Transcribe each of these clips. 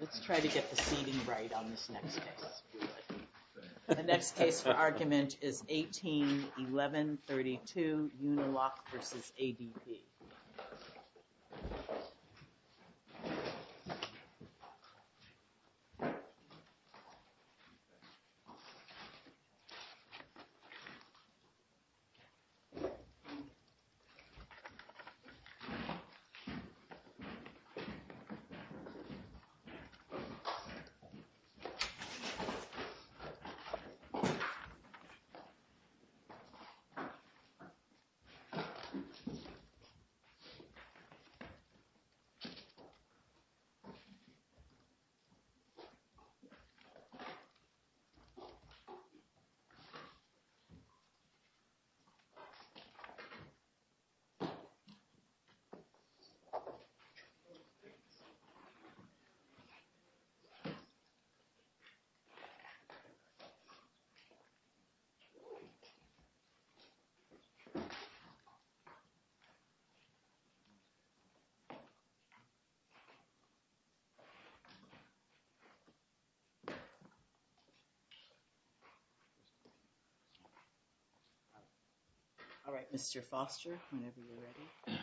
Let's try to get the seating right on this next case. The next case for argument is 18-11-32, Uniloc v. ADP. So far, the case has not been heard. All right, Mr. Foster, whenever you're ready.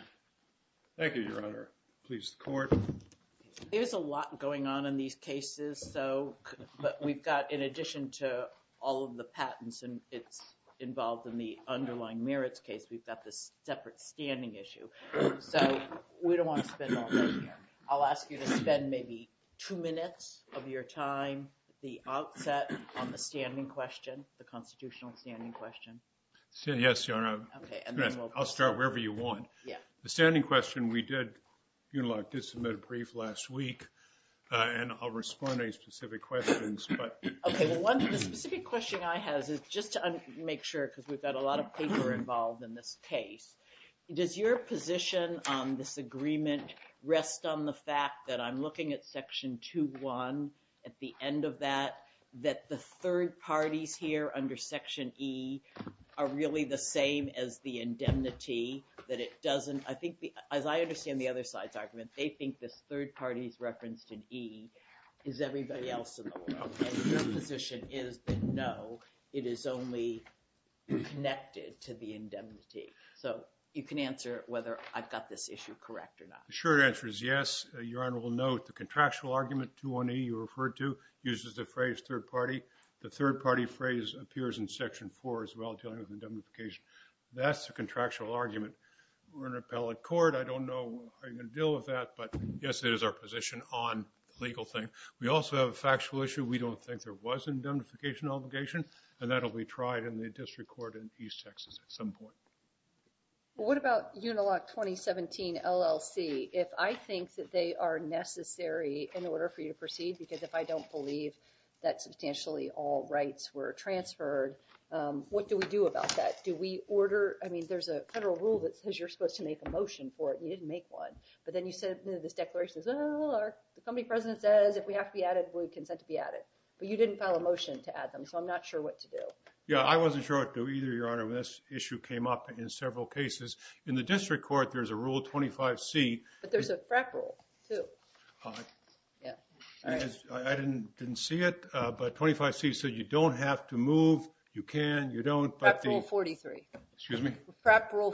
Thank you, Your Honor. Please, the court. There's a lot going on in these cases. So, but we've got, in addition to all of the patents and it's involved in the underlying merits case, we've got this separate standing issue. So, we don't want to spend all day here. I'll ask you to spend maybe two minutes of your time, the outset on the standing question, the constitutional standing question. Yes, Your Honor. I'll start wherever you want. Yeah. The standing question we did, if you'd like, did submit a brief last week. And I'll respond to any specific questions. Okay, well, one of the specific questions I have is just to make sure, because we've got a lot of people involved in this case. Does your position on this agreement rest on the fact that I'm looking at Section 2.1 at the end of that, that the third parties here under Section E are really the same as the indemnity? That it doesn't, I think, as I understand the other side's argument, they think this third party's reference to E is everybody else in the world. And your position is that no, it is only connected to the indemnity. So, you can answer whether I've got this issue correct or not. The short answer is yes. Your Honor will note the contractual argument 2.1E you referred to uses the phrase third party. The third party phrase appears in Section 4 as well, dealing with indemnification. That's a contractual argument. We're an appellate court. I don't know how you're going to deal with that, but yes, it is our position on the legal thing. We also have a factual issue. We don't think there was an indemnification obligation, and that will be tried in the district court in East Texas at some point. What about Unilock 2017 LLC? If I think that they are necessary in order for you to proceed, because if I don't believe that substantially all rights were transferred, what do we do about that? Do we order, I mean, there's a federal rule that says you're supposed to make a motion for it, and you didn't make one. But then you said this declaration says the company president says if we have to be added, we would consent to be added. But you didn't file a motion to add them, so I'm not sure what to do. Yeah, I wasn't sure what to do either, Your Honor, when this issue came up in several cases. In the district court, there's a Rule 25C. But there's a FRAP rule, too. I didn't see it, but 25C said you don't have to move. FRAP Rule 43. Excuse me? Okay,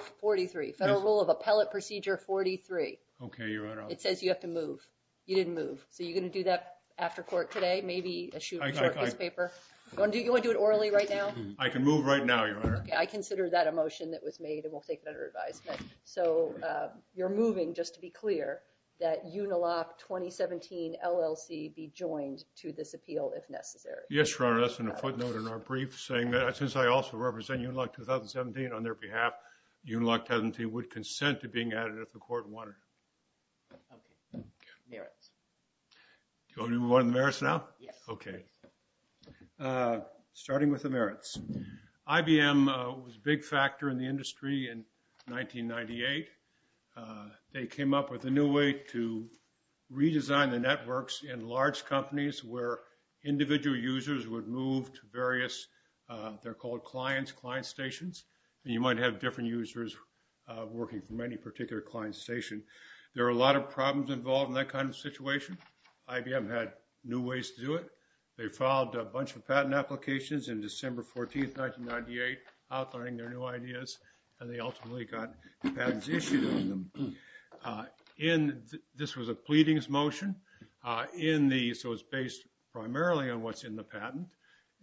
Your Honor. It says you have to move. You didn't move. So you're going to do that after court today? Maybe issue a short case paper? You want to do it orally right now? I can move right now, Your Honor. Okay, I consider that a motion that was made, and we'll take it under advisement. So you're moving, just to be clear, that Unilock 2017 LLC be joined to this appeal if necessary. Yes, Your Honor. That's in a footnote in our brief, saying that since I also represent Unilock 2017 on their behalf, Unilock 2017 would consent to being added if the court wanted. Okay. Merits. Do you want to move on to the merits now? Yes. Okay. Starting with the merits. IBM was a big factor in the industry in 1998. They came up with a new way to redesign the networks in large companies where individual users would move to various, they're called clients, client stations. And you might have different users working from any particular client station. There were a lot of problems involved in that kind of situation. IBM had new ways to do it. They filed a bunch of patent applications in December 14, 1998, outlining their new ideas, and they ultimately got patents issued on them. This was a pleadings motion, so it's based primarily on what's in the patent.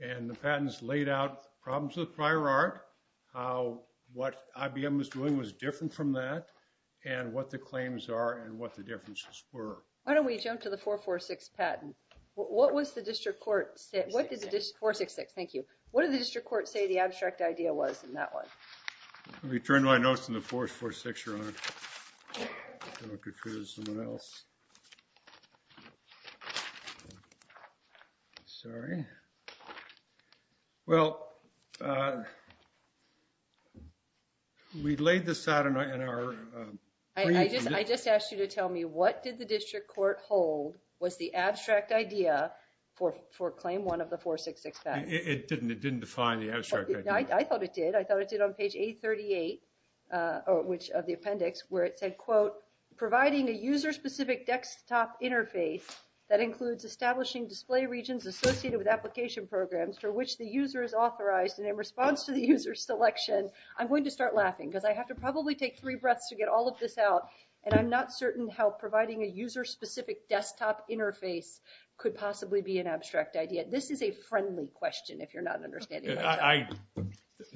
And the patents laid out problems with prior art, how what IBM was doing was different from that, and what the claims are and what the differences were. Why don't we jump to the 446 patent? What does the district court say the abstract idea was in that one? Let me turn my notes in the 446 around. Don't confuse someone else. Sorry. Well, we laid this out in our. I just asked you to tell me what did the district court hold was the abstract idea for claim one of the 466 patent? It didn't define the abstract idea. No, I thought it did. I thought it did on page 838 of the appendix where it said, quote, providing a user-specific desktop interface that includes establishing display regions associated with application programs for which the user is authorized and in response to the user selection. I'm going to start laughing because I have to probably take three breaths to get all of this out, and I'm not certain how providing a user-specific desktop interface could possibly be an abstract idea. This is a friendly question, if you're not understanding.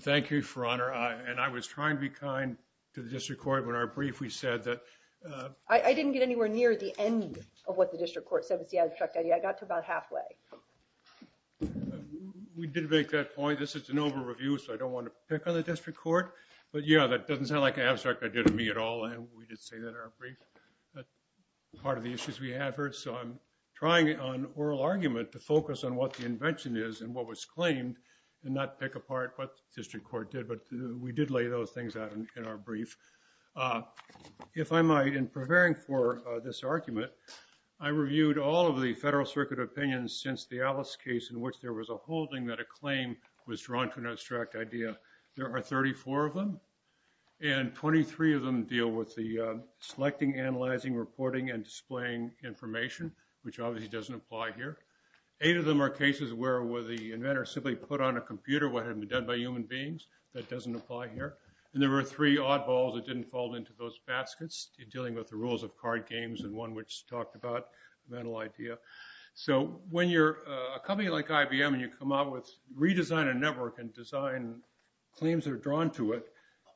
Thank you for honor. And I was trying to be kind to the district court when our brief we said that. I didn't get anywhere near the end of what the district court said was the abstract idea. I got to about halfway. We did make that point. This is an over review, so I don't want to pick on the district court. But, yeah, that doesn't sound like an abstract idea to me at all. And we did say that our brief part of the issues we have heard. So I'm trying on oral argument to focus on what the invention is and what was claimed and not pick apart what the district court did. But we did lay those things out in our brief. If I might, in preparing for this argument, I reviewed all of the Federal Circuit opinions since the Alice case in which there was a holding that a claim was drawn to an abstract idea. There are 34 of them, and 23 of them deal with the selecting, analyzing, reporting, and displaying information, which obviously doesn't apply here. Eight of them are cases where the inventor simply put on a computer what had been done by human beings. That doesn't apply here. And there were three oddballs that didn't fall into those baskets in dealing with the rules of card games and one which talked about mental idea. So when you're a company like IBM and you come up with, redesign a network and design claims that are drawn to it.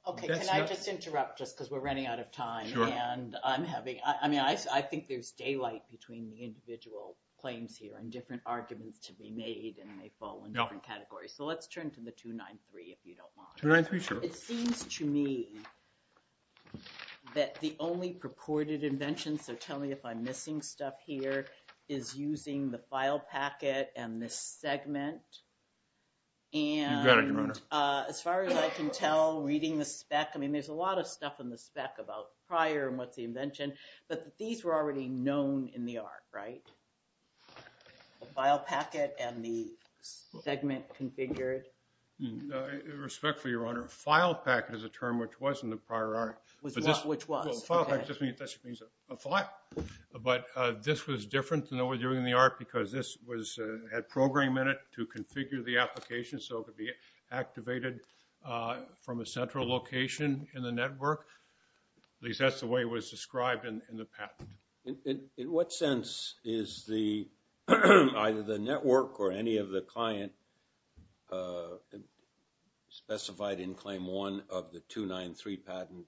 Okay, can I just interrupt just because we're running out of time? Sure. And I'm having, I mean, I think there's daylight between the individual claims here and different arguments to be made and they fall in different categories. So let's turn to the 293 if you don't mind. 293, sure. It seems to me that the only purported invention, so tell me if I'm missing stuff here, is using the file packet and the segment. You got it, Your Honor. And as far as I can tell, reading the spec, I mean, there's a lot of stuff in the spec about prior and what's the invention, but these were already known in the art, right? The file packet and the segment configured. Respectfully, Your Honor, file packet is a term which wasn't a prior art. Which was? Well, file packet just means a file. But this was different than what we're doing in the art because this had program in it to configure the application so it could be activated from a central location in the network. At least that's the way it was described in the patent. In what sense is either the network or any of the client specified in Claim 1 of the 293 patent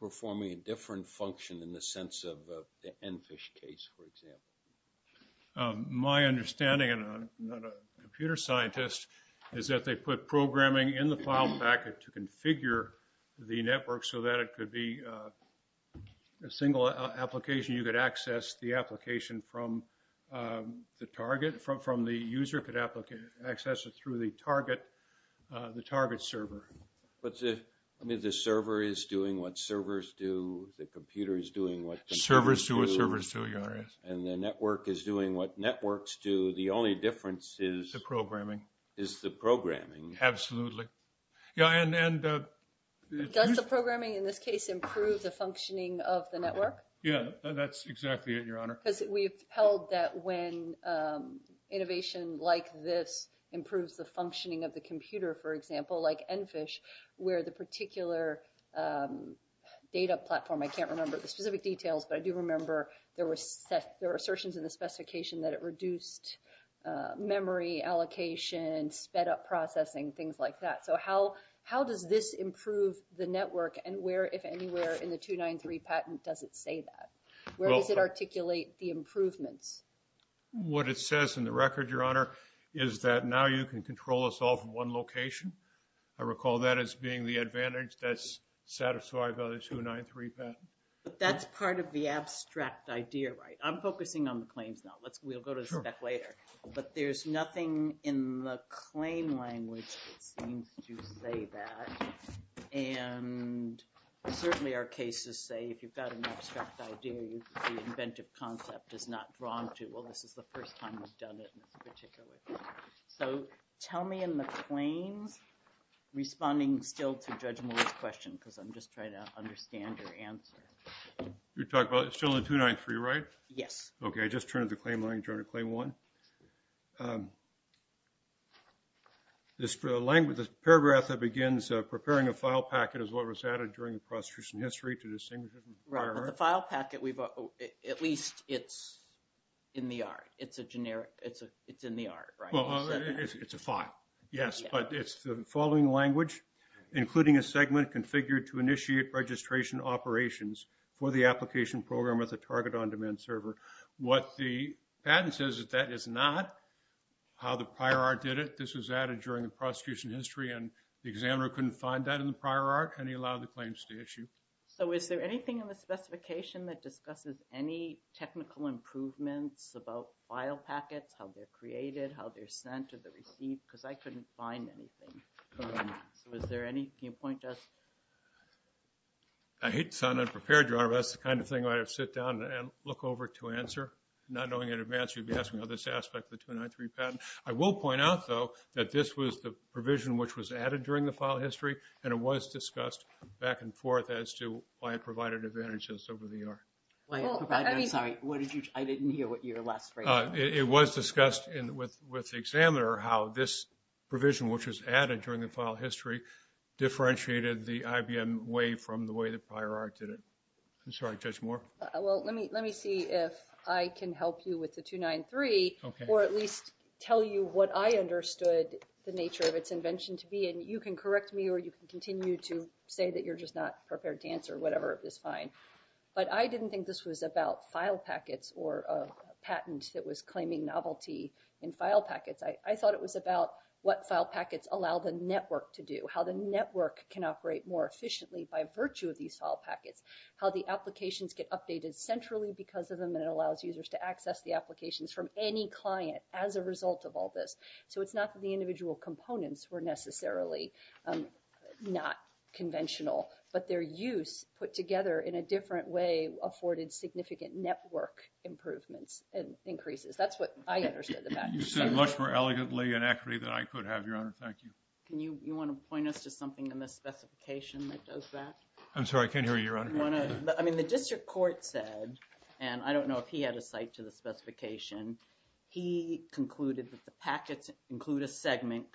performing a different function in the sense of the EnFISH case, for example? My understanding, and I'm not a computer scientist, is that they put programming in the file packet to configure the network so that it could be a single application. You could access the application from the target. From the user could access it through the target server. But the server is doing what servers do. The computer is doing what computers do. Servers do what servers do, Your Honor. And the network is doing what networks do. The only difference is. The programming. Is the programming. Absolutely. Yeah, and. Does the programming in this case improve the functioning of the network? Yeah, that's exactly it, Your Honor. Because we've held that when innovation like this improves the functioning of the computer, for example, like EnFISH, where the particular data platform, I can't remember the specific details, but I do remember there were assertions in the specification that it reduced memory allocation, sped up processing, things like that. So how does this improve the network? And where, if anywhere, in the 293 patent does it say that? Where does it articulate the improvements? What it says in the record, Your Honor, is that now you can control us all from one location. I recall that as being the advantage that's satisfied by the 293 patent. But that's part of the abstract idea, right? I'm focusing on the claims now. We'll go to the spec later. But there's nothing in the claim language that seems to say that. And certainly our cases say if you've got an abstract idea, the inventive concept is not drawn to, well, this is the first time we've done it in this particular case. So tell me in the claims, responding still to Judge Moore's question, because I'm just trying to understand your answer. You're talking about still the 293, right? Yes. Okay, I just turned the claim language on to claim one. The paragraph that begins, preparing a file packet is what was added during the prosecution history to distinguish it from prior art. Right, but the file packet, at least it's in the art. It's in the art, right? Well, it's a file, yes, but it's the following language, including a segment configured to initiate registration operations for the application program with a target on demand server. What the patent says is that is not how the prior art did it. This was added during the prosecution history, and the examiner couldn't find that in the prior art, and he allowed the claims to issue. So is there anything in the specification that discusses any technical improvements about file packets, how they're created, how they're sent, or they're received? Because I couldn't find anything. Can you point to us? I hate to sound unprepared, Your Honor, but that's the kind of thing I would sit down and look over to answer, not knowing in advance you'd be asking about this aspect of the 293 patent. I will point out, though, that this was the provision which was added during the file history, and it was discussed back and forth as to why it provided advantages over the art. I'm sorry, I didn't hear your last phrase. It was discussed with the examiner how this provision, which was added during the file history, differentiated the IBM way from the way the prior art did it. I'm sorry, Judge Moore? Well, let me see if I can help you with the 293, or at least tell you what I understood the nature of its invention to be. And you can correct me or you can continue to say that you're just not prepared to answer. Whatever is fine. But I didn't think this was about file packets or a patent that was claiming novelty in file packets. I thought it was about what file packets allow the network to do, how the network can operate more efficiently by virtue of these file packets, how the applications get updated centrally because of them, and it allows users to access the applications from any client as a result of all this. So it's not that the individual components were necessarily not conventional, but their use put together in a different way afforded significant network improvements and increases. That's what I understood the fact. You said it much more elegantly and accurately than I could have, Your Honor. Thank you. Can you, you want to point us to something in the specification that does that? I'm sorry, I can't hear you, Your Honor. I mean, the district court said, and I don't know if he had a cite to the specification, he concluded that the packets include a segment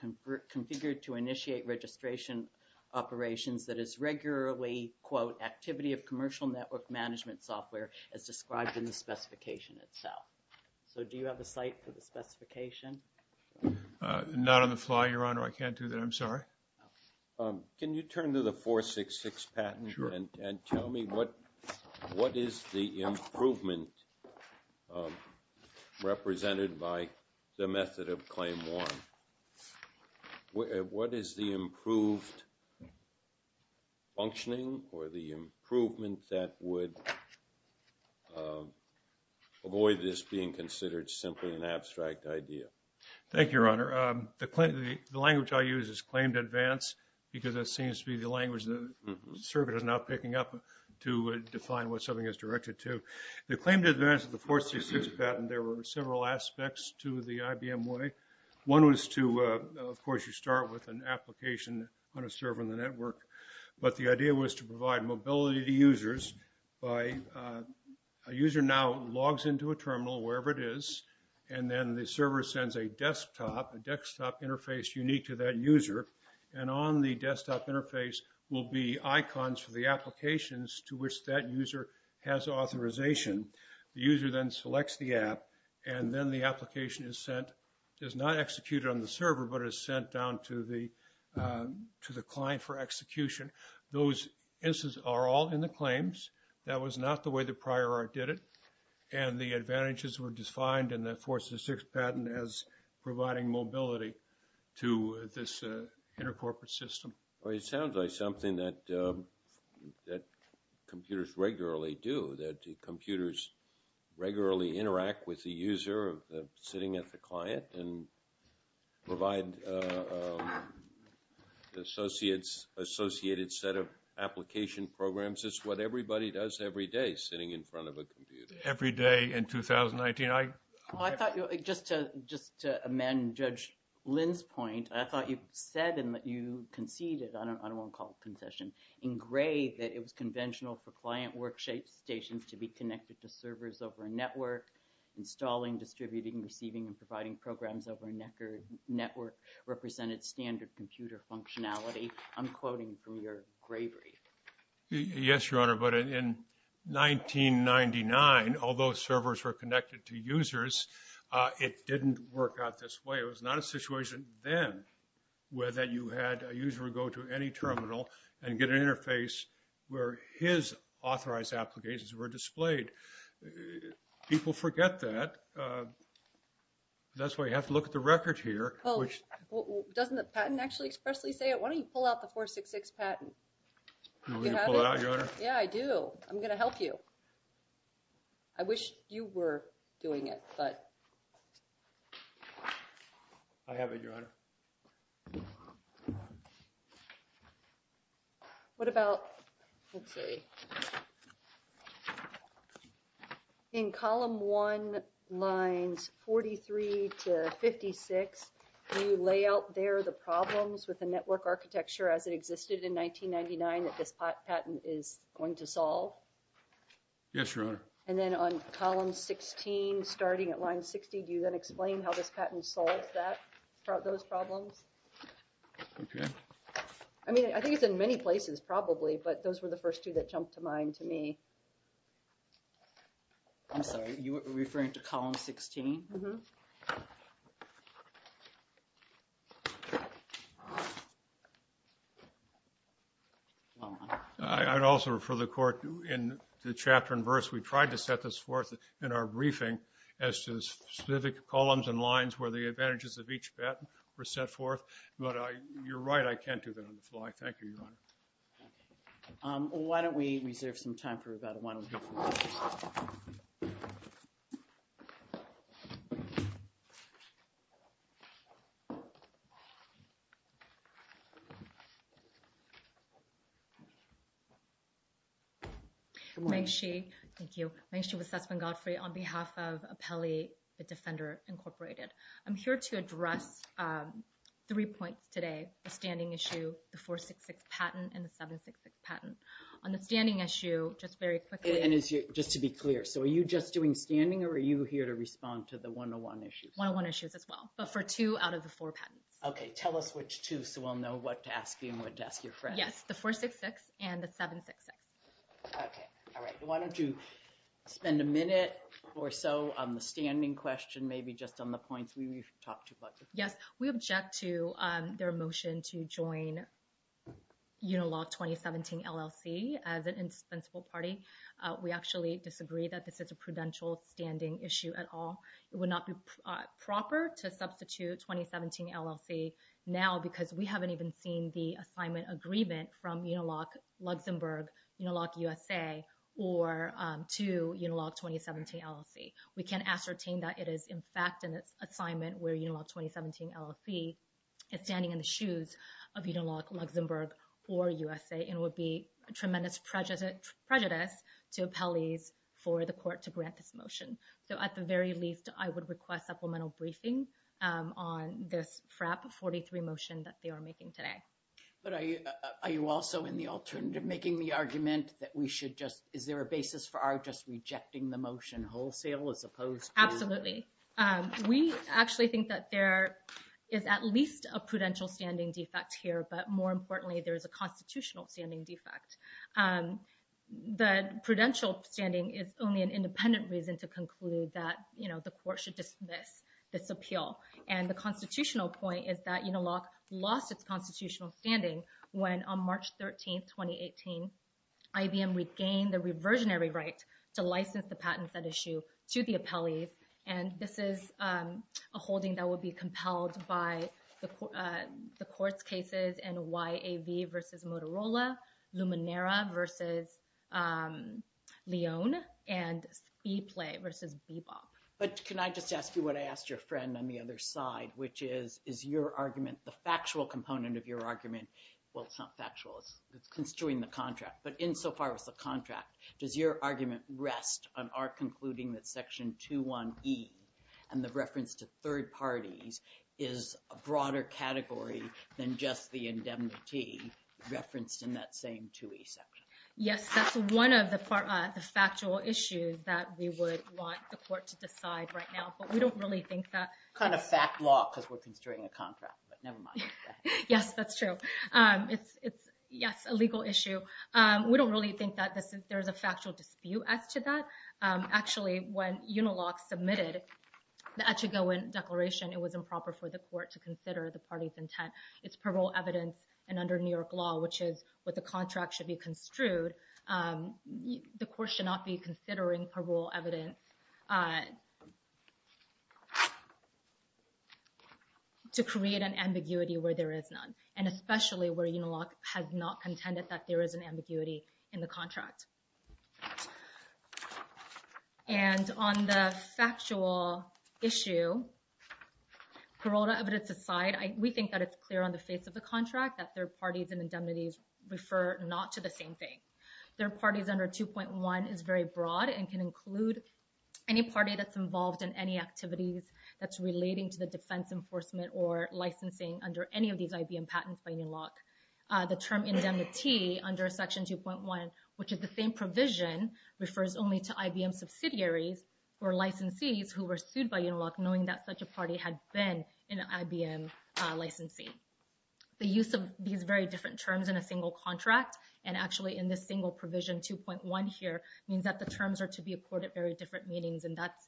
configured to initiate registration operations that is regularly, quote, activity of commercial network management software, as described in the specification itself. So do you have a cite for the specification? Not on the fly, Your Honor. I can't do that. I'm sorry. Can you turn to the 466 patent? Sure. And tell me what is the improvement represented by the method of claim one? What is the improved functioning or the improvement that would avoid this being considered simply an abstract idea? The language I use is claimed advance because that seems to be the language the server is now picking up to define what something is directed to. The claimed advance of the 466 patent, there were several aspects to the IBM way. One was to, of course, you start with an application on a server in the network, but the idea was to provide mobility to users by a user now logs into a terminal, wherever it is, and then the server sends a desktop, a desktop interface unique to that user, and on the desktop interface will be icons for the applications to which that user has authorization. The user then selects the app, and then the application is sent, is not executed on the server, but is sent down to the client for execution. Those instances are all in the claims. That was not the way the prior art did it, and the advantages were defined in the 466 patent as providing mobility to this intercorporate system. Well, it sounds like something that computers regularly do, that computers regularly interact with the user sitting at the client and provide the associated set of application programs. That's just what everybody does every day sitting in front of a computer. Every day in 2019. I thought just to amend Judge Lynn's point, I thought you said and you conceded, I don't want to call it a concession, in Gray that it was conventional for client work stations to be connected to servers over a network, installing, distributing, receiving, and providing programs over a network represented standard computer functionality. I'm quoting from your Gray brief. Yes, Your Honor, but in 1999, although servers were connected to users, it didn't work out this way. It was not a situation then where you had a user go to any terminal and get an interface where his authorized applications were displayed. People forget that. That's why you have to look at the record here. Doesn't the patent actually expressly say it? Why don't you pull out the 466 patent? You have it? Yeah, I do. I'm going to help you. I wish you were doing it, but. I have it, Your Honor. What about, let's see. In column one, lines 43 to 56, do you lay out there the problems with the network architecture as it existed in 1999 that this patent is going to solve? Yes, Your Honor. And then on column 16, starting at line 60, do you then explain how this patent solves those problems? Okay. I mean, I think it's in many places probably, but those were the first two that jumped to mind to me. I'm sorry. You were referring to column 16? Mm-hmm. I'd also refer the court in the chapter and verse. We tried to set this forth in our briefing as to specific columns and lines where the advantages of each patent were set forth. But you're right, I can't do that on the fly. Thank you, Your Honor. Um, why don't we reserve some time for rebuttal. Why don't we go for rebuttal. Meng Shi. Thank you. Meng Shi with Sussman Godfrey on behalf of Apelli, the Defender Incorporated. I'm here to address three points today, the standing issue, the 466 patent, and the 766 patent. On the standing issue, just very quickly. And just to be clear, so are you just doing standing or are you here to respond to the 101 issues? 101 issues as well, but for two out of the four patents. Okay, tell us which two so we'll know what to ask you and what to ask your friends. Yes, the 466 and the 766. Okay, all right. Why don't you spend a minute or so on the standing question, maybe just on the points we talked about. Yes, we object to their motion to join Unilog 2017 LLC as an indispensable party. We actually disagree that this is a prudential standing issue at all. It would not be proper to substitute 2017 LLC now because we haven't even seen the assignment agreement from Unilog Luxembourg, Unilog USA, or to Unilog 2017 LLC. We can ascertain that it is in fact an assignment where Unilog 2017 LLC is standing in the shoes of Unilog Luxembourg or USA and would be a tremendous prejudice to appellees for the court to grant this motion. So at the very least, I would request supplemental briefing on this PrEP 43 motion that they are making today. But are you also in the alternative making the argument that we should just, is there a basis for our just rejecting the motion wholesale as opposed to? Absolutely. We actually think that there is at least a prudential standing defect here, but more importantly, there is a constitutional standing defect. The prudential standing is only an independent reason to conclude that, you know, the court should dismiss this appeal. And the constitutional point is that Unilog lost its constitutional standing when on March 13, 2018, IBM regained the reversionary right to license the patents at issue to the appellees. And this is a holding that would be compelled by the court's cases in YAV versus Motorola, Luminera versus Lyon, and ePlay versus Bebop. But can I just ask you what I asked your friend on the other side, which is, is your argument, the factual component of your argument, well, it's not factual, it's construing the contract, but insofar as the contract, does your argument rest on our concluding that Section 2.1.E and the reference to third parties is a broader category than just the indemnity referenced in that same 2.1.E section? Yes, that's one of the factual issues that we would want the court to decide right now, but we don't really think that… It's kind of fact law because we're construing a contract, but never mind. Yes, that's true. It's, yes, a legal issue. We don't really think that there's a factual dispute as to that. Actually, when Unilog submitted the Echigoen Declaration, it was improper for the court to consider the party's intent. It's parole evidence, and under New York law, which is what the contract should be construed, the court should not be considering parole evidence to create an ambiguity where there is none, and especially where Unilog has not contended that there is an ambiguity in the contract. And on the factual issue, parole evidence aside, we think that it's clear on the face of the contract that third parties and indemnities refer not to the same thing. Third parties under 2.1 is very broad and can include any party that's involved in any activities that's relating to the defense enforcement or licensing under any of these IBM patents by Unilog. The term indemnity under section 2.1, which is the same provision, refers only to IBM subsidiaries or licensees who were sued by Unilog knowing that such a party had been an IBM licensee. The use of these very different terms in a single contract and actually in this single provision 2.1 here means that the terms are to be accorded very different meanings, and that's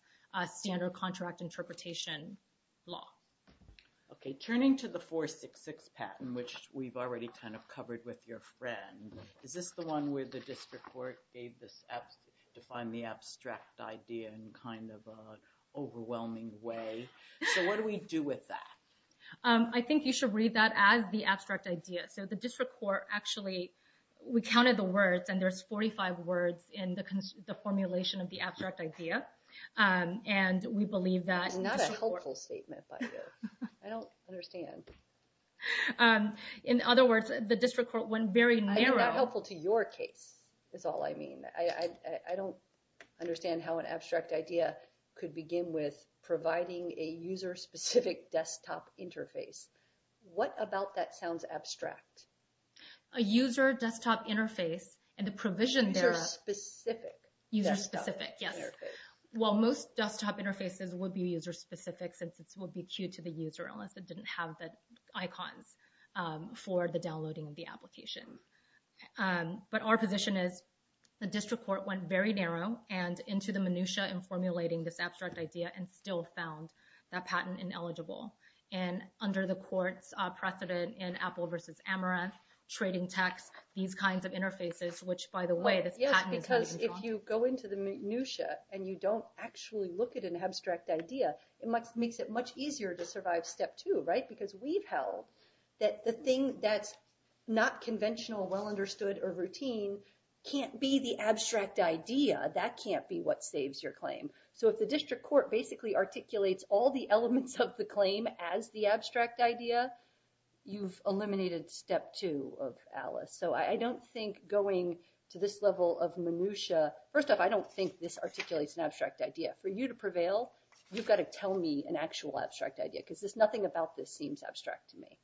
standard contract interpretation law. Okay, turning to the 466 patent, which we've already kind of covered with your friend, is this the one where the district court defined the abstract idea in kind of an overwhelming way? So what do we do with that? I think you should read that as the abstract idea. So the district court actually, we counted the words and there's 45 words in the formulation of the abstract idea, and we believe that... It's not a helpful statement by you. I don't understand. In other words, the district court went very narrow... I mean, not helpful to your case is all I mean. I don't understand how an abstract idea could begin with providing a user-specific desktop interface. What about that sounds abstract? A user desktop interface and the provision there... User-specific. User-specific, yes. Well, most desktop interfaces would be user-specific since it would be queued to the user unless it didn't have the icons for the downloading of the application. But our position is the district court went very narrow and into the minutiae in formulating this abstract idea and still found that patent ineligible. And under the court's precedent in Apple versus Amaranth, trading tax, these kinds of interfaces, which, by the way, this patent... Yes, because if you go into the minutiae and you don't actually look at an abstract idea, it makes it much easier to survive step two, right? Because we've held that the thing that's not conventional, well-understood, or routine can't be the abstract idea. That can't be what saves your claim. So if the district court basically articulates all the elements of the claim as the abstract idea, you've eliminated step two of Alice. So I don't think going to this level of minutiae... First off, I don't think this articulates an abstract idea. For you to prevail, you've got to tell me an actual abstract idea because nothing about this seems abstract to me.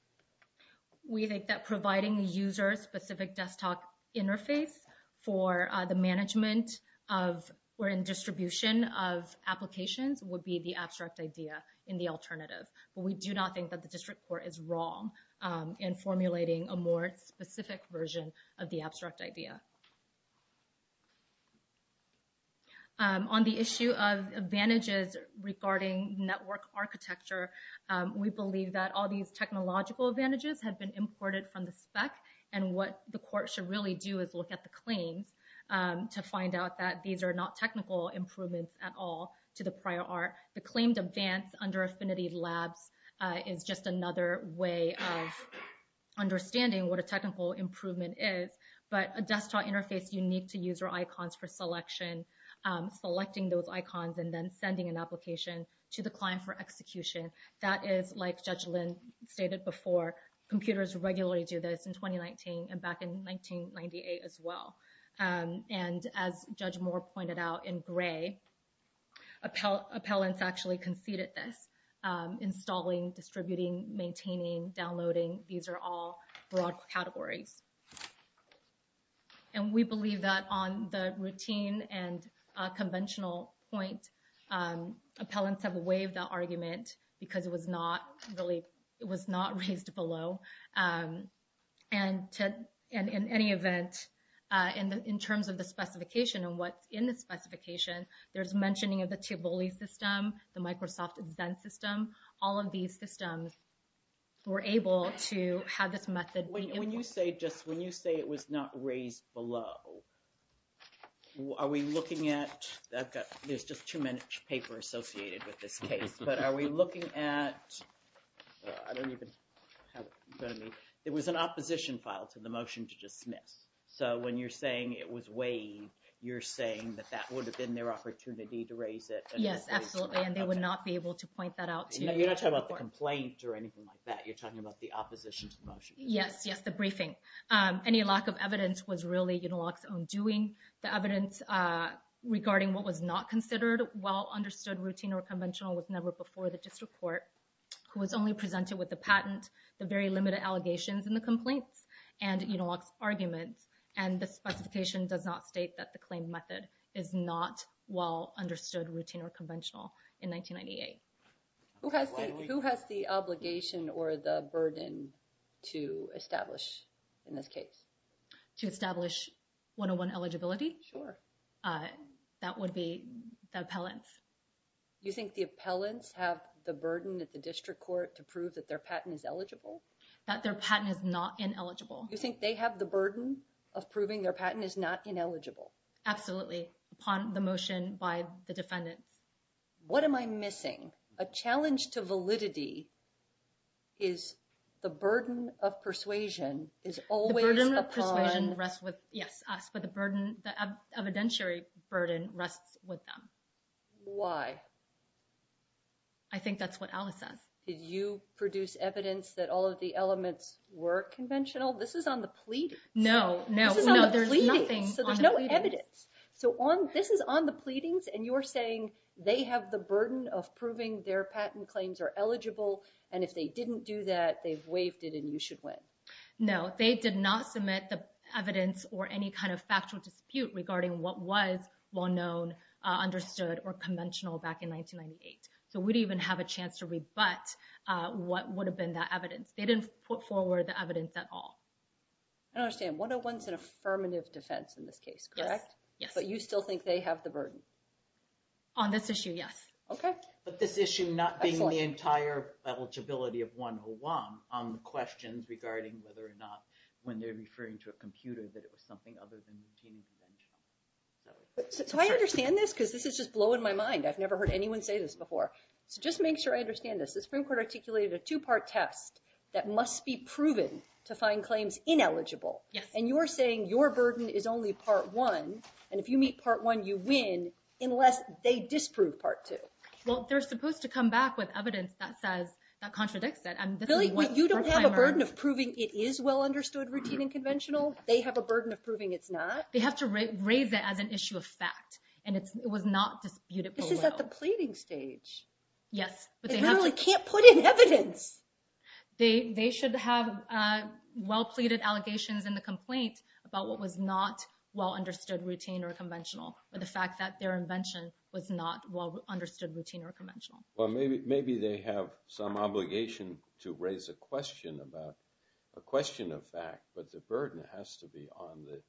We think that providing a user-specific desktop interface for the management of or in distribution of applications would be the abstract idea in the alternative. But we do not think that the district court is wrong in formulating a more specific version of the abstract idea. On the issue of advantages regarding network architecture, we believe that all these technological advantages have been imported from the spec, and what the court should really do is look at the claims to find out that these are not technical improvements at all to the prior art. The claimed advance under Affinity Labs is just another way of understanding what a technical improvement is. But a desktop interface unique to user icons for selection, selecting those icons and then sending an application to the client for execution, that is like Judge Lin stated before. Computers regularly do this in 2019 and back in 1998 as well. And as Judge Moore pointed out in gray, appellants actually conceded this. Installing, distributing, maintaining, downloading, these are all broad categories. And we believe that on the routine and conventional point, appellants have waived that argument because it was not really, it was not raised below. And in any event, in terms of the specification and what's in the specification, there's mentioning of the Tivoli system, the Microsoft Xen system, all of these systems were able to have this method. When you say just, when you say it was not raised below, are we looking at, there's just too many papers associated with this case, but are we looking at, I don't even have it in front of me. It was an opposition file to the motion to dismiss. So when you're saying it was waived, you're saying that that would have been their opportunity to raise it. Yes, absolutely. And they would not be able to point that out to you. You're not talking about the complaint or anything like that. You're talking about the opposition to the motion. Yes, yes, the briefing. Any lack of evidence was really Unilog's own doing. The evidence regarding what was not considered a well-understood routine or conventional was never before the district court, who was only presented with the patent, the very limited allegations in the complaints, and Unilog's arguments. And the specification does not state that the claimed method is not well-understood routine or conventional in 1998. Who has the obligation or the burden to establish in this case? To establish 101 eligibility? Sure. That would be the appellants. You think the appellants have the burden at the district court to prove that their patent is eligible? That their patent is not ineligible. You think they have the burden of proving their patent is not ineligible? Absolutely, upon the motion by the defendants. What am I missing? A challenge to validity is the burden of persuasion is always upon... The burden of persuasion rests with, yes, us, but the evidentiary burden rests with them. Why? I think that's what Alice says. Did you produce evidence that all of the elements were conventional? This is on the pleadings. No, no. This is on the pleadings, so there's no evidence. So this is on the pleadings, and you're saying they have the burden of proving their patent claims are eligible, and if they didn't do that, they've waived it and you should win. No, they did not submit the evidence or any kind of factual dispute regarding what was well-known, understood, or conventional back in 1998. So we didn't even have a chance to rebut what would have been that evidence. They didn't put forward the evidence at all. I don't understand. 101's an affirmative defense in this case, correct? Yes. But you still think they have the burden? On this issue, yes. Okay. But this issue not being the entire eligibility of 101 on the questions regarding whether or not when they're referring to a computer that it was something other than the team's invention. So I understand this, because this is just blowing my mind. I've never heard anyone say this before. So just make sure I understand this. The Supreme Court articulated a two-part test that must be proven to find claims ineligible, and you're saying your burden is only part one, and if you meet part one, you win, unless they disprove part two. Well, they're supposed to come back with evidence that contradicts that. Billy, you don't have a burden of proving it is well-understood, routine, and conventional? They have a burden of proving it's not? They have to raise it as an issue of fact, and it was not disputed below. This is at the pleading stage. Yes. They literally can't put in evidence. They should have well-pleaded allegations in the complaint about what was not well-understood, routine, or conventional, or the fact that their invention was not well-understood, routine, or conventional. Well, maybe they have some obligation to raise a question of fact, but the burden has to be on the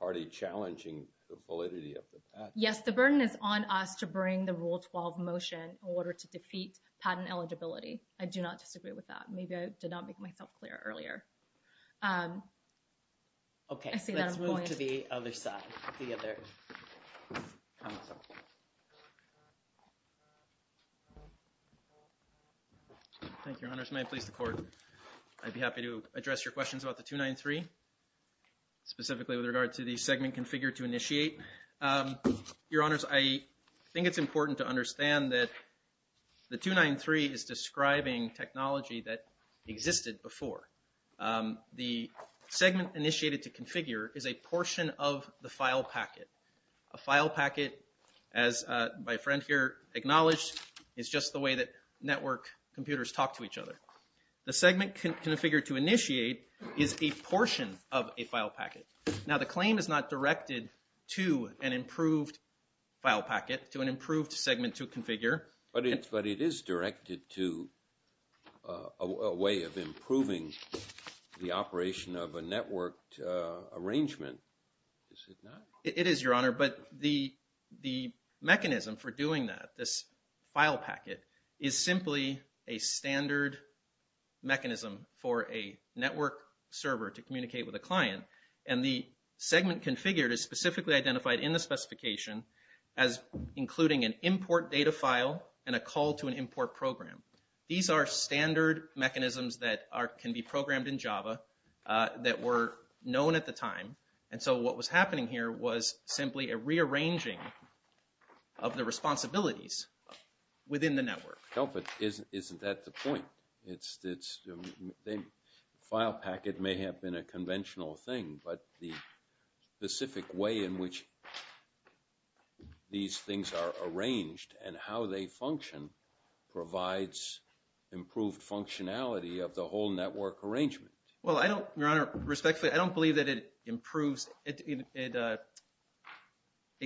party challenging the validity of the patent. Yes, the burden is on us to bring the Rule 12 motion in order to defeat patent eligibility. I do not disagree with that. Maybe I did not make myself clear earlier. Okay. Let's move to the other side, the other counsel. Thank you, Your Honors. May I please the court? I'd be happy to address your questions about the 293, specifically with regard to the segment configured to initiate. Your Honors, I think it's important to understand that the 293 is describing technology that existed before. The segment initiated to configure is a portion of the file packet. A file packet, as my friend here acknowledged, is just the way that network computers talk to each other. The segment configured to initiate is a portion of a file packet. Now, the claim is not directed to an improved file packet, to an improved segment to configure. But it is directed to a way of improving the operation of a networked arrangement. Is it not? It is, Your Honor, but the mechanism for doing that, this file packet, is simply a standard mechanism for a network server to communicate with a client. And the segment configured is specifically identified in the specification as including an import data file and a call to an import program. These are standard mechanisms that can be programmed in Java that were known at the time. And so what was happening here was simply a rearranging of the responsibilities within the network. No, but isn't that the point? File packet may have been a conventional thing, but the specific way in which these things are arranged and how they function provides improved functionality of the whole network arrangement. Well, I don't, Your Honor, respectfully, I don't believe that it improves, it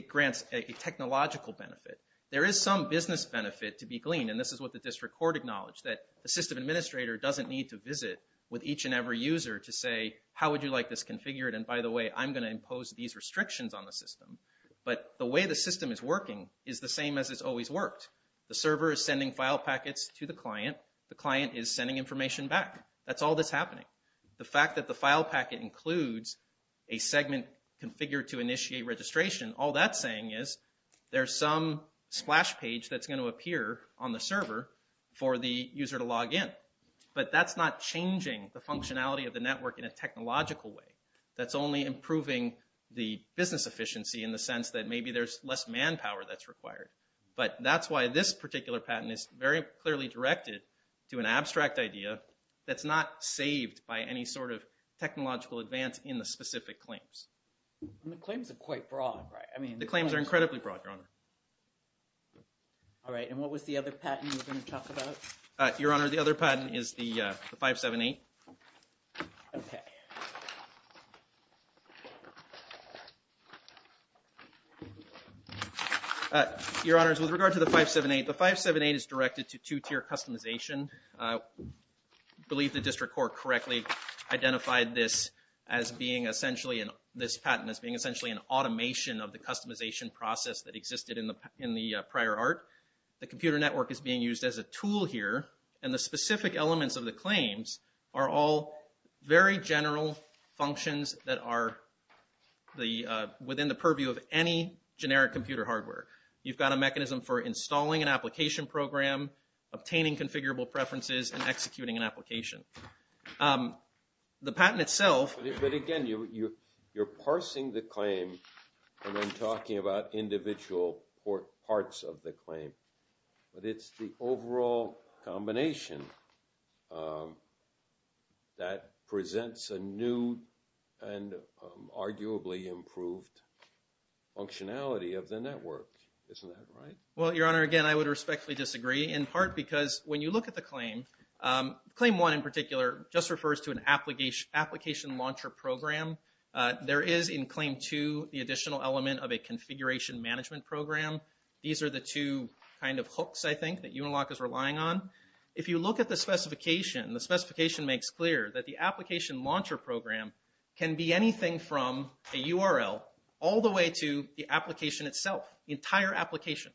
grants a technological benefit. There is some business benefit to be gleaned, and this is what the district court acknowledged, that the system administrator doesn't need to visit with each and every user to say, how would you like this configured? And by the way, I'm going to impose these restrictions on the system. But the way the system is working is the same as it's always worked. The server is sending file packets to the client. The client is sending information back. That's all that's happening. The fact that the file packet includes a segment configured to initiate registration, all that's saying is there's some splash page that's going to appear on the server for the user to log in. But that's not changing the functionality of the network in a technological way. That's only improving the business efficiency in the sense that maybe there's less manpower that's required. But that's why this particular patent is very clearly directed to an abstract idea that's not saved by any sort of technological advance in the specific claims. And the claims are quite broad, right? The claims are incredibly broad, Your Honor. All right, and what was the other patent you were going to talk about? Your Honor, the other patent is the 578. OK. Your Honors, with regard to the 578, the 578 is directed to two-tier customization. I believe the district court correctly identified this patent as being essentially an automation of the customization process that existed in the prior art. The computer network is being used as a tool here. And the specific elements of the claims are all very general functions that are within the purview of any generic computer hardware. You've got a mechanism for installing an application program, obtaining configurable preferences, and executing an application. The patent itself. But again, you're parsing the claim and then talking about individual parts of the claim. But it's the overall combination that presents a new and arguably improved functionality of the network. Isn't that right? Well, Your Honor, again, I would respectfully disagree, in part because when you look at the claim, claim one, in particular, just refers to an application launcher program. There is, in claim two, the additional element of a configuration management program. These are the two kind of hooks, I think, that Unilock is relying on. If you look at the specification, the specification makes clear that the application launcher program can be anything from a URL all the way to the application itself, the entire application.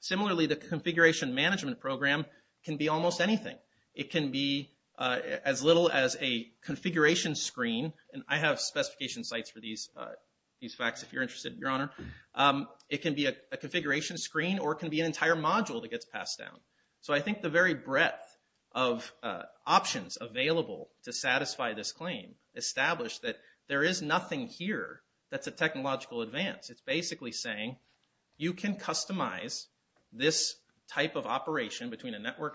Similarly, the configuration management program can be almost anything. It can be as little as a configuration screen. And I have specification sites for these facts if you're interested, Your Honor. It can be a configuration screen or it can be an entire module that gets passed down. So I think the very breadth of options available to satisfy this claim establish that there is nothing here that's a technological advance. It's basically saying, you can customize this type of operation between a network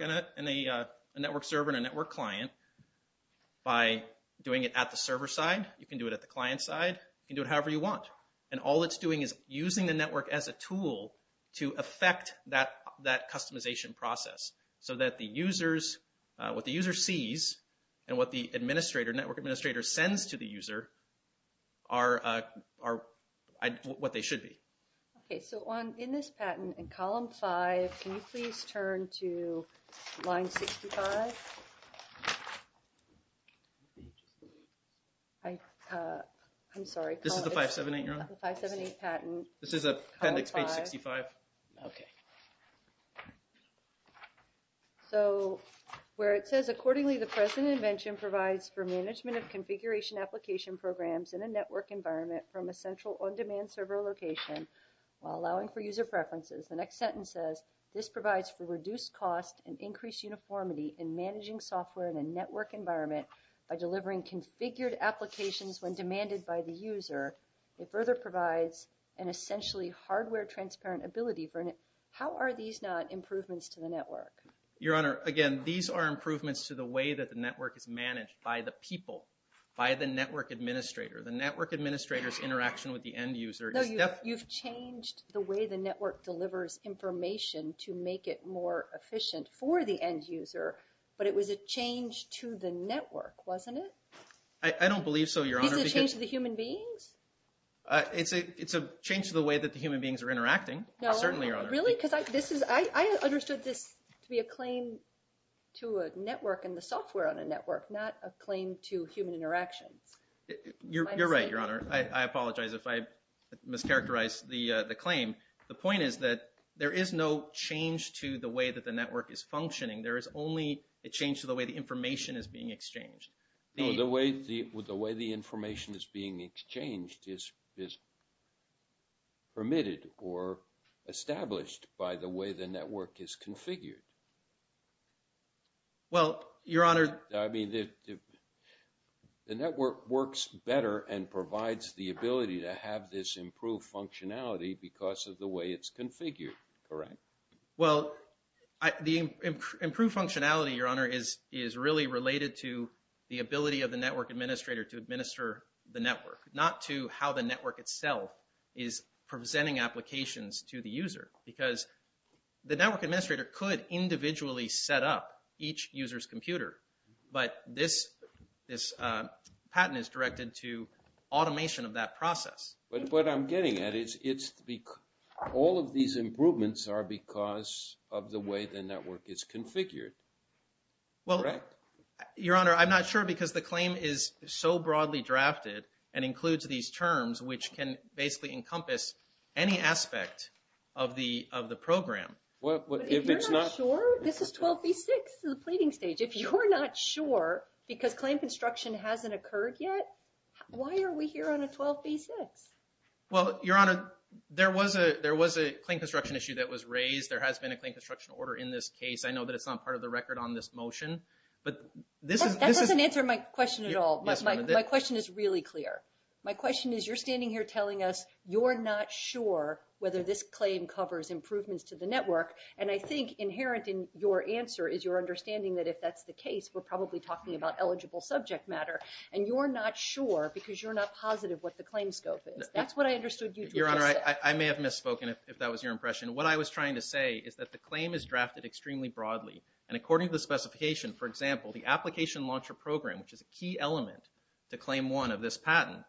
server and a network client by doing it at the server side. You can do it at the client side. You can do it however you want. And all it's doing is using the network as a tool to affect that customization process so that what the user sees and what the network administrator sends to the user are what they should be. OK, so in this patent, in column five, can you please turn to line 65? I'm sorry. This is the 578, Your Honor? The 578 patent. This is appendix page 65. OK. So where it says, accordingly, the present invention provides for management of configuration application programs in a network environment from a central on-demand server location while allowing for user preferences. The next sentence says, this provides for reduced cost and increased uniformity in managing software in a network environment by delivering configured applications when demanded by the user. It further provides an essentially hardware transparent ability. How are these not improvements to the network? Your Honor, again, these are improvements to the way that the network is managed by the people, by the network administrator. The network administrator's interaction with the end user is definitely- No, you've changed the way the network delivers information to make it more efficient for the end user, but it was a change to the network, wasn't it? I don't believe so, Your Honor, because- Is it a change to the human beings? It's a change to the way that the human beings are interacting, certainly, Your Honor. No, really? Because I understood this to be a claim to a network and the software on a network, not a claim to human interactions. You're right, Your Honor. I apologize if I mischaracterized the claim. The point is that there is no change to the way that the network is functioning. There is only a change to the way the information is being exchanged. No, the way the information is being exchanged is permitted or established by the way the network is configured. Well, Your Honor- The network works better and provides the ability to have this improved functionality because of the way it's configured, correct? Well, the improved functionality, Your Honor, is really related to the ability of the network administrator to administer the network, not to how the network itself is presenting applications to the user, because the network administrator could individually set up each user's computer, but this patent is directed to automation of that process. But what I'm getting at is all of these improvements are because of the way the network is configured, correct? Well, Your Honor, I'm not sure because the claim is so broadly drafted and includes these terms, which can basically encompass any aspect of the program. If it's not- If you're not sure, this is 12b6, the pleading stage. If you're not sure because claim construction hasn't occurred yet, why are we here on a 12b6? Well, Your Honor, there was a claim construction issue that was raised. There has been a claim construction order in this case. I know that it's not part of the record on this motion, but this is- That doesn't answer my question at all. My question is really clear. My question is you're standing here telling us you're not sure whether this claim covers improvements to the network, and I think inherent in your answer is your understanding that if that's the case, we're probably talking about eligible subject matter, and you're not sure because you're not positive what the claim scope is. That's what I understood you to be saying. Your Honor, I may have misspoken, if that was your impression. What I was trying to say is that the claim is drafted extremely broadly, and according to the specification, for example, the Application Launcher Program, which is a key element to Claim 1 of this patent,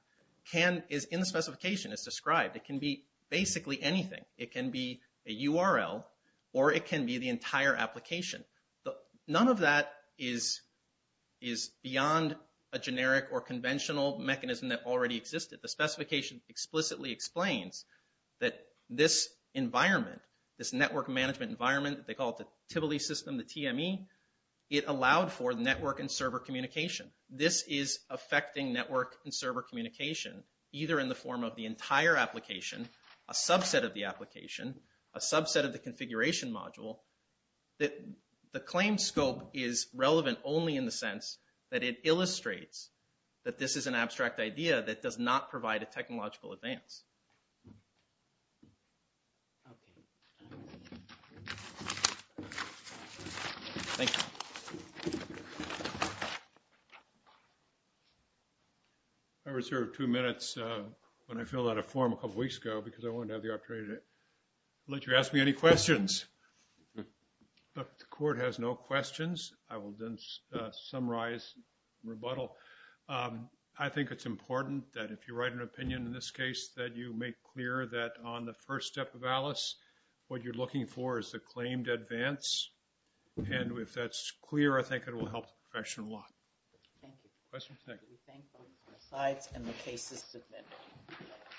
is in the specification. It's described. It can be basically anything. It can be a URL, or it can be the entire application. None of that is beyond a generic or conventional mechanism that already existed. The specification explicitly explains that this environment, this network management environment, they call it the Tivoli system, the TME, it allowed for network and server communication. This is affecting network and server communication either in the form of the entire application, a subset of the application, a subset of the configuration module. The claim scope is relevant only in the sense that it illustrates that this is an abstract idea that does not provide a technological advance. Thank you. I reserved two minutes when I filled out a form a couple weeks ago because I wanted to have the opportunity to let you ask me any questions. But the court has no questions. I will then summarize and rebuttal. I think it's important that if you write an opinion in this case, that you make clear that on the first step of ALICE, what you're looking for is the claimed advance. And if that's clear, I think it will help the profession a lot. Questions? Thank you.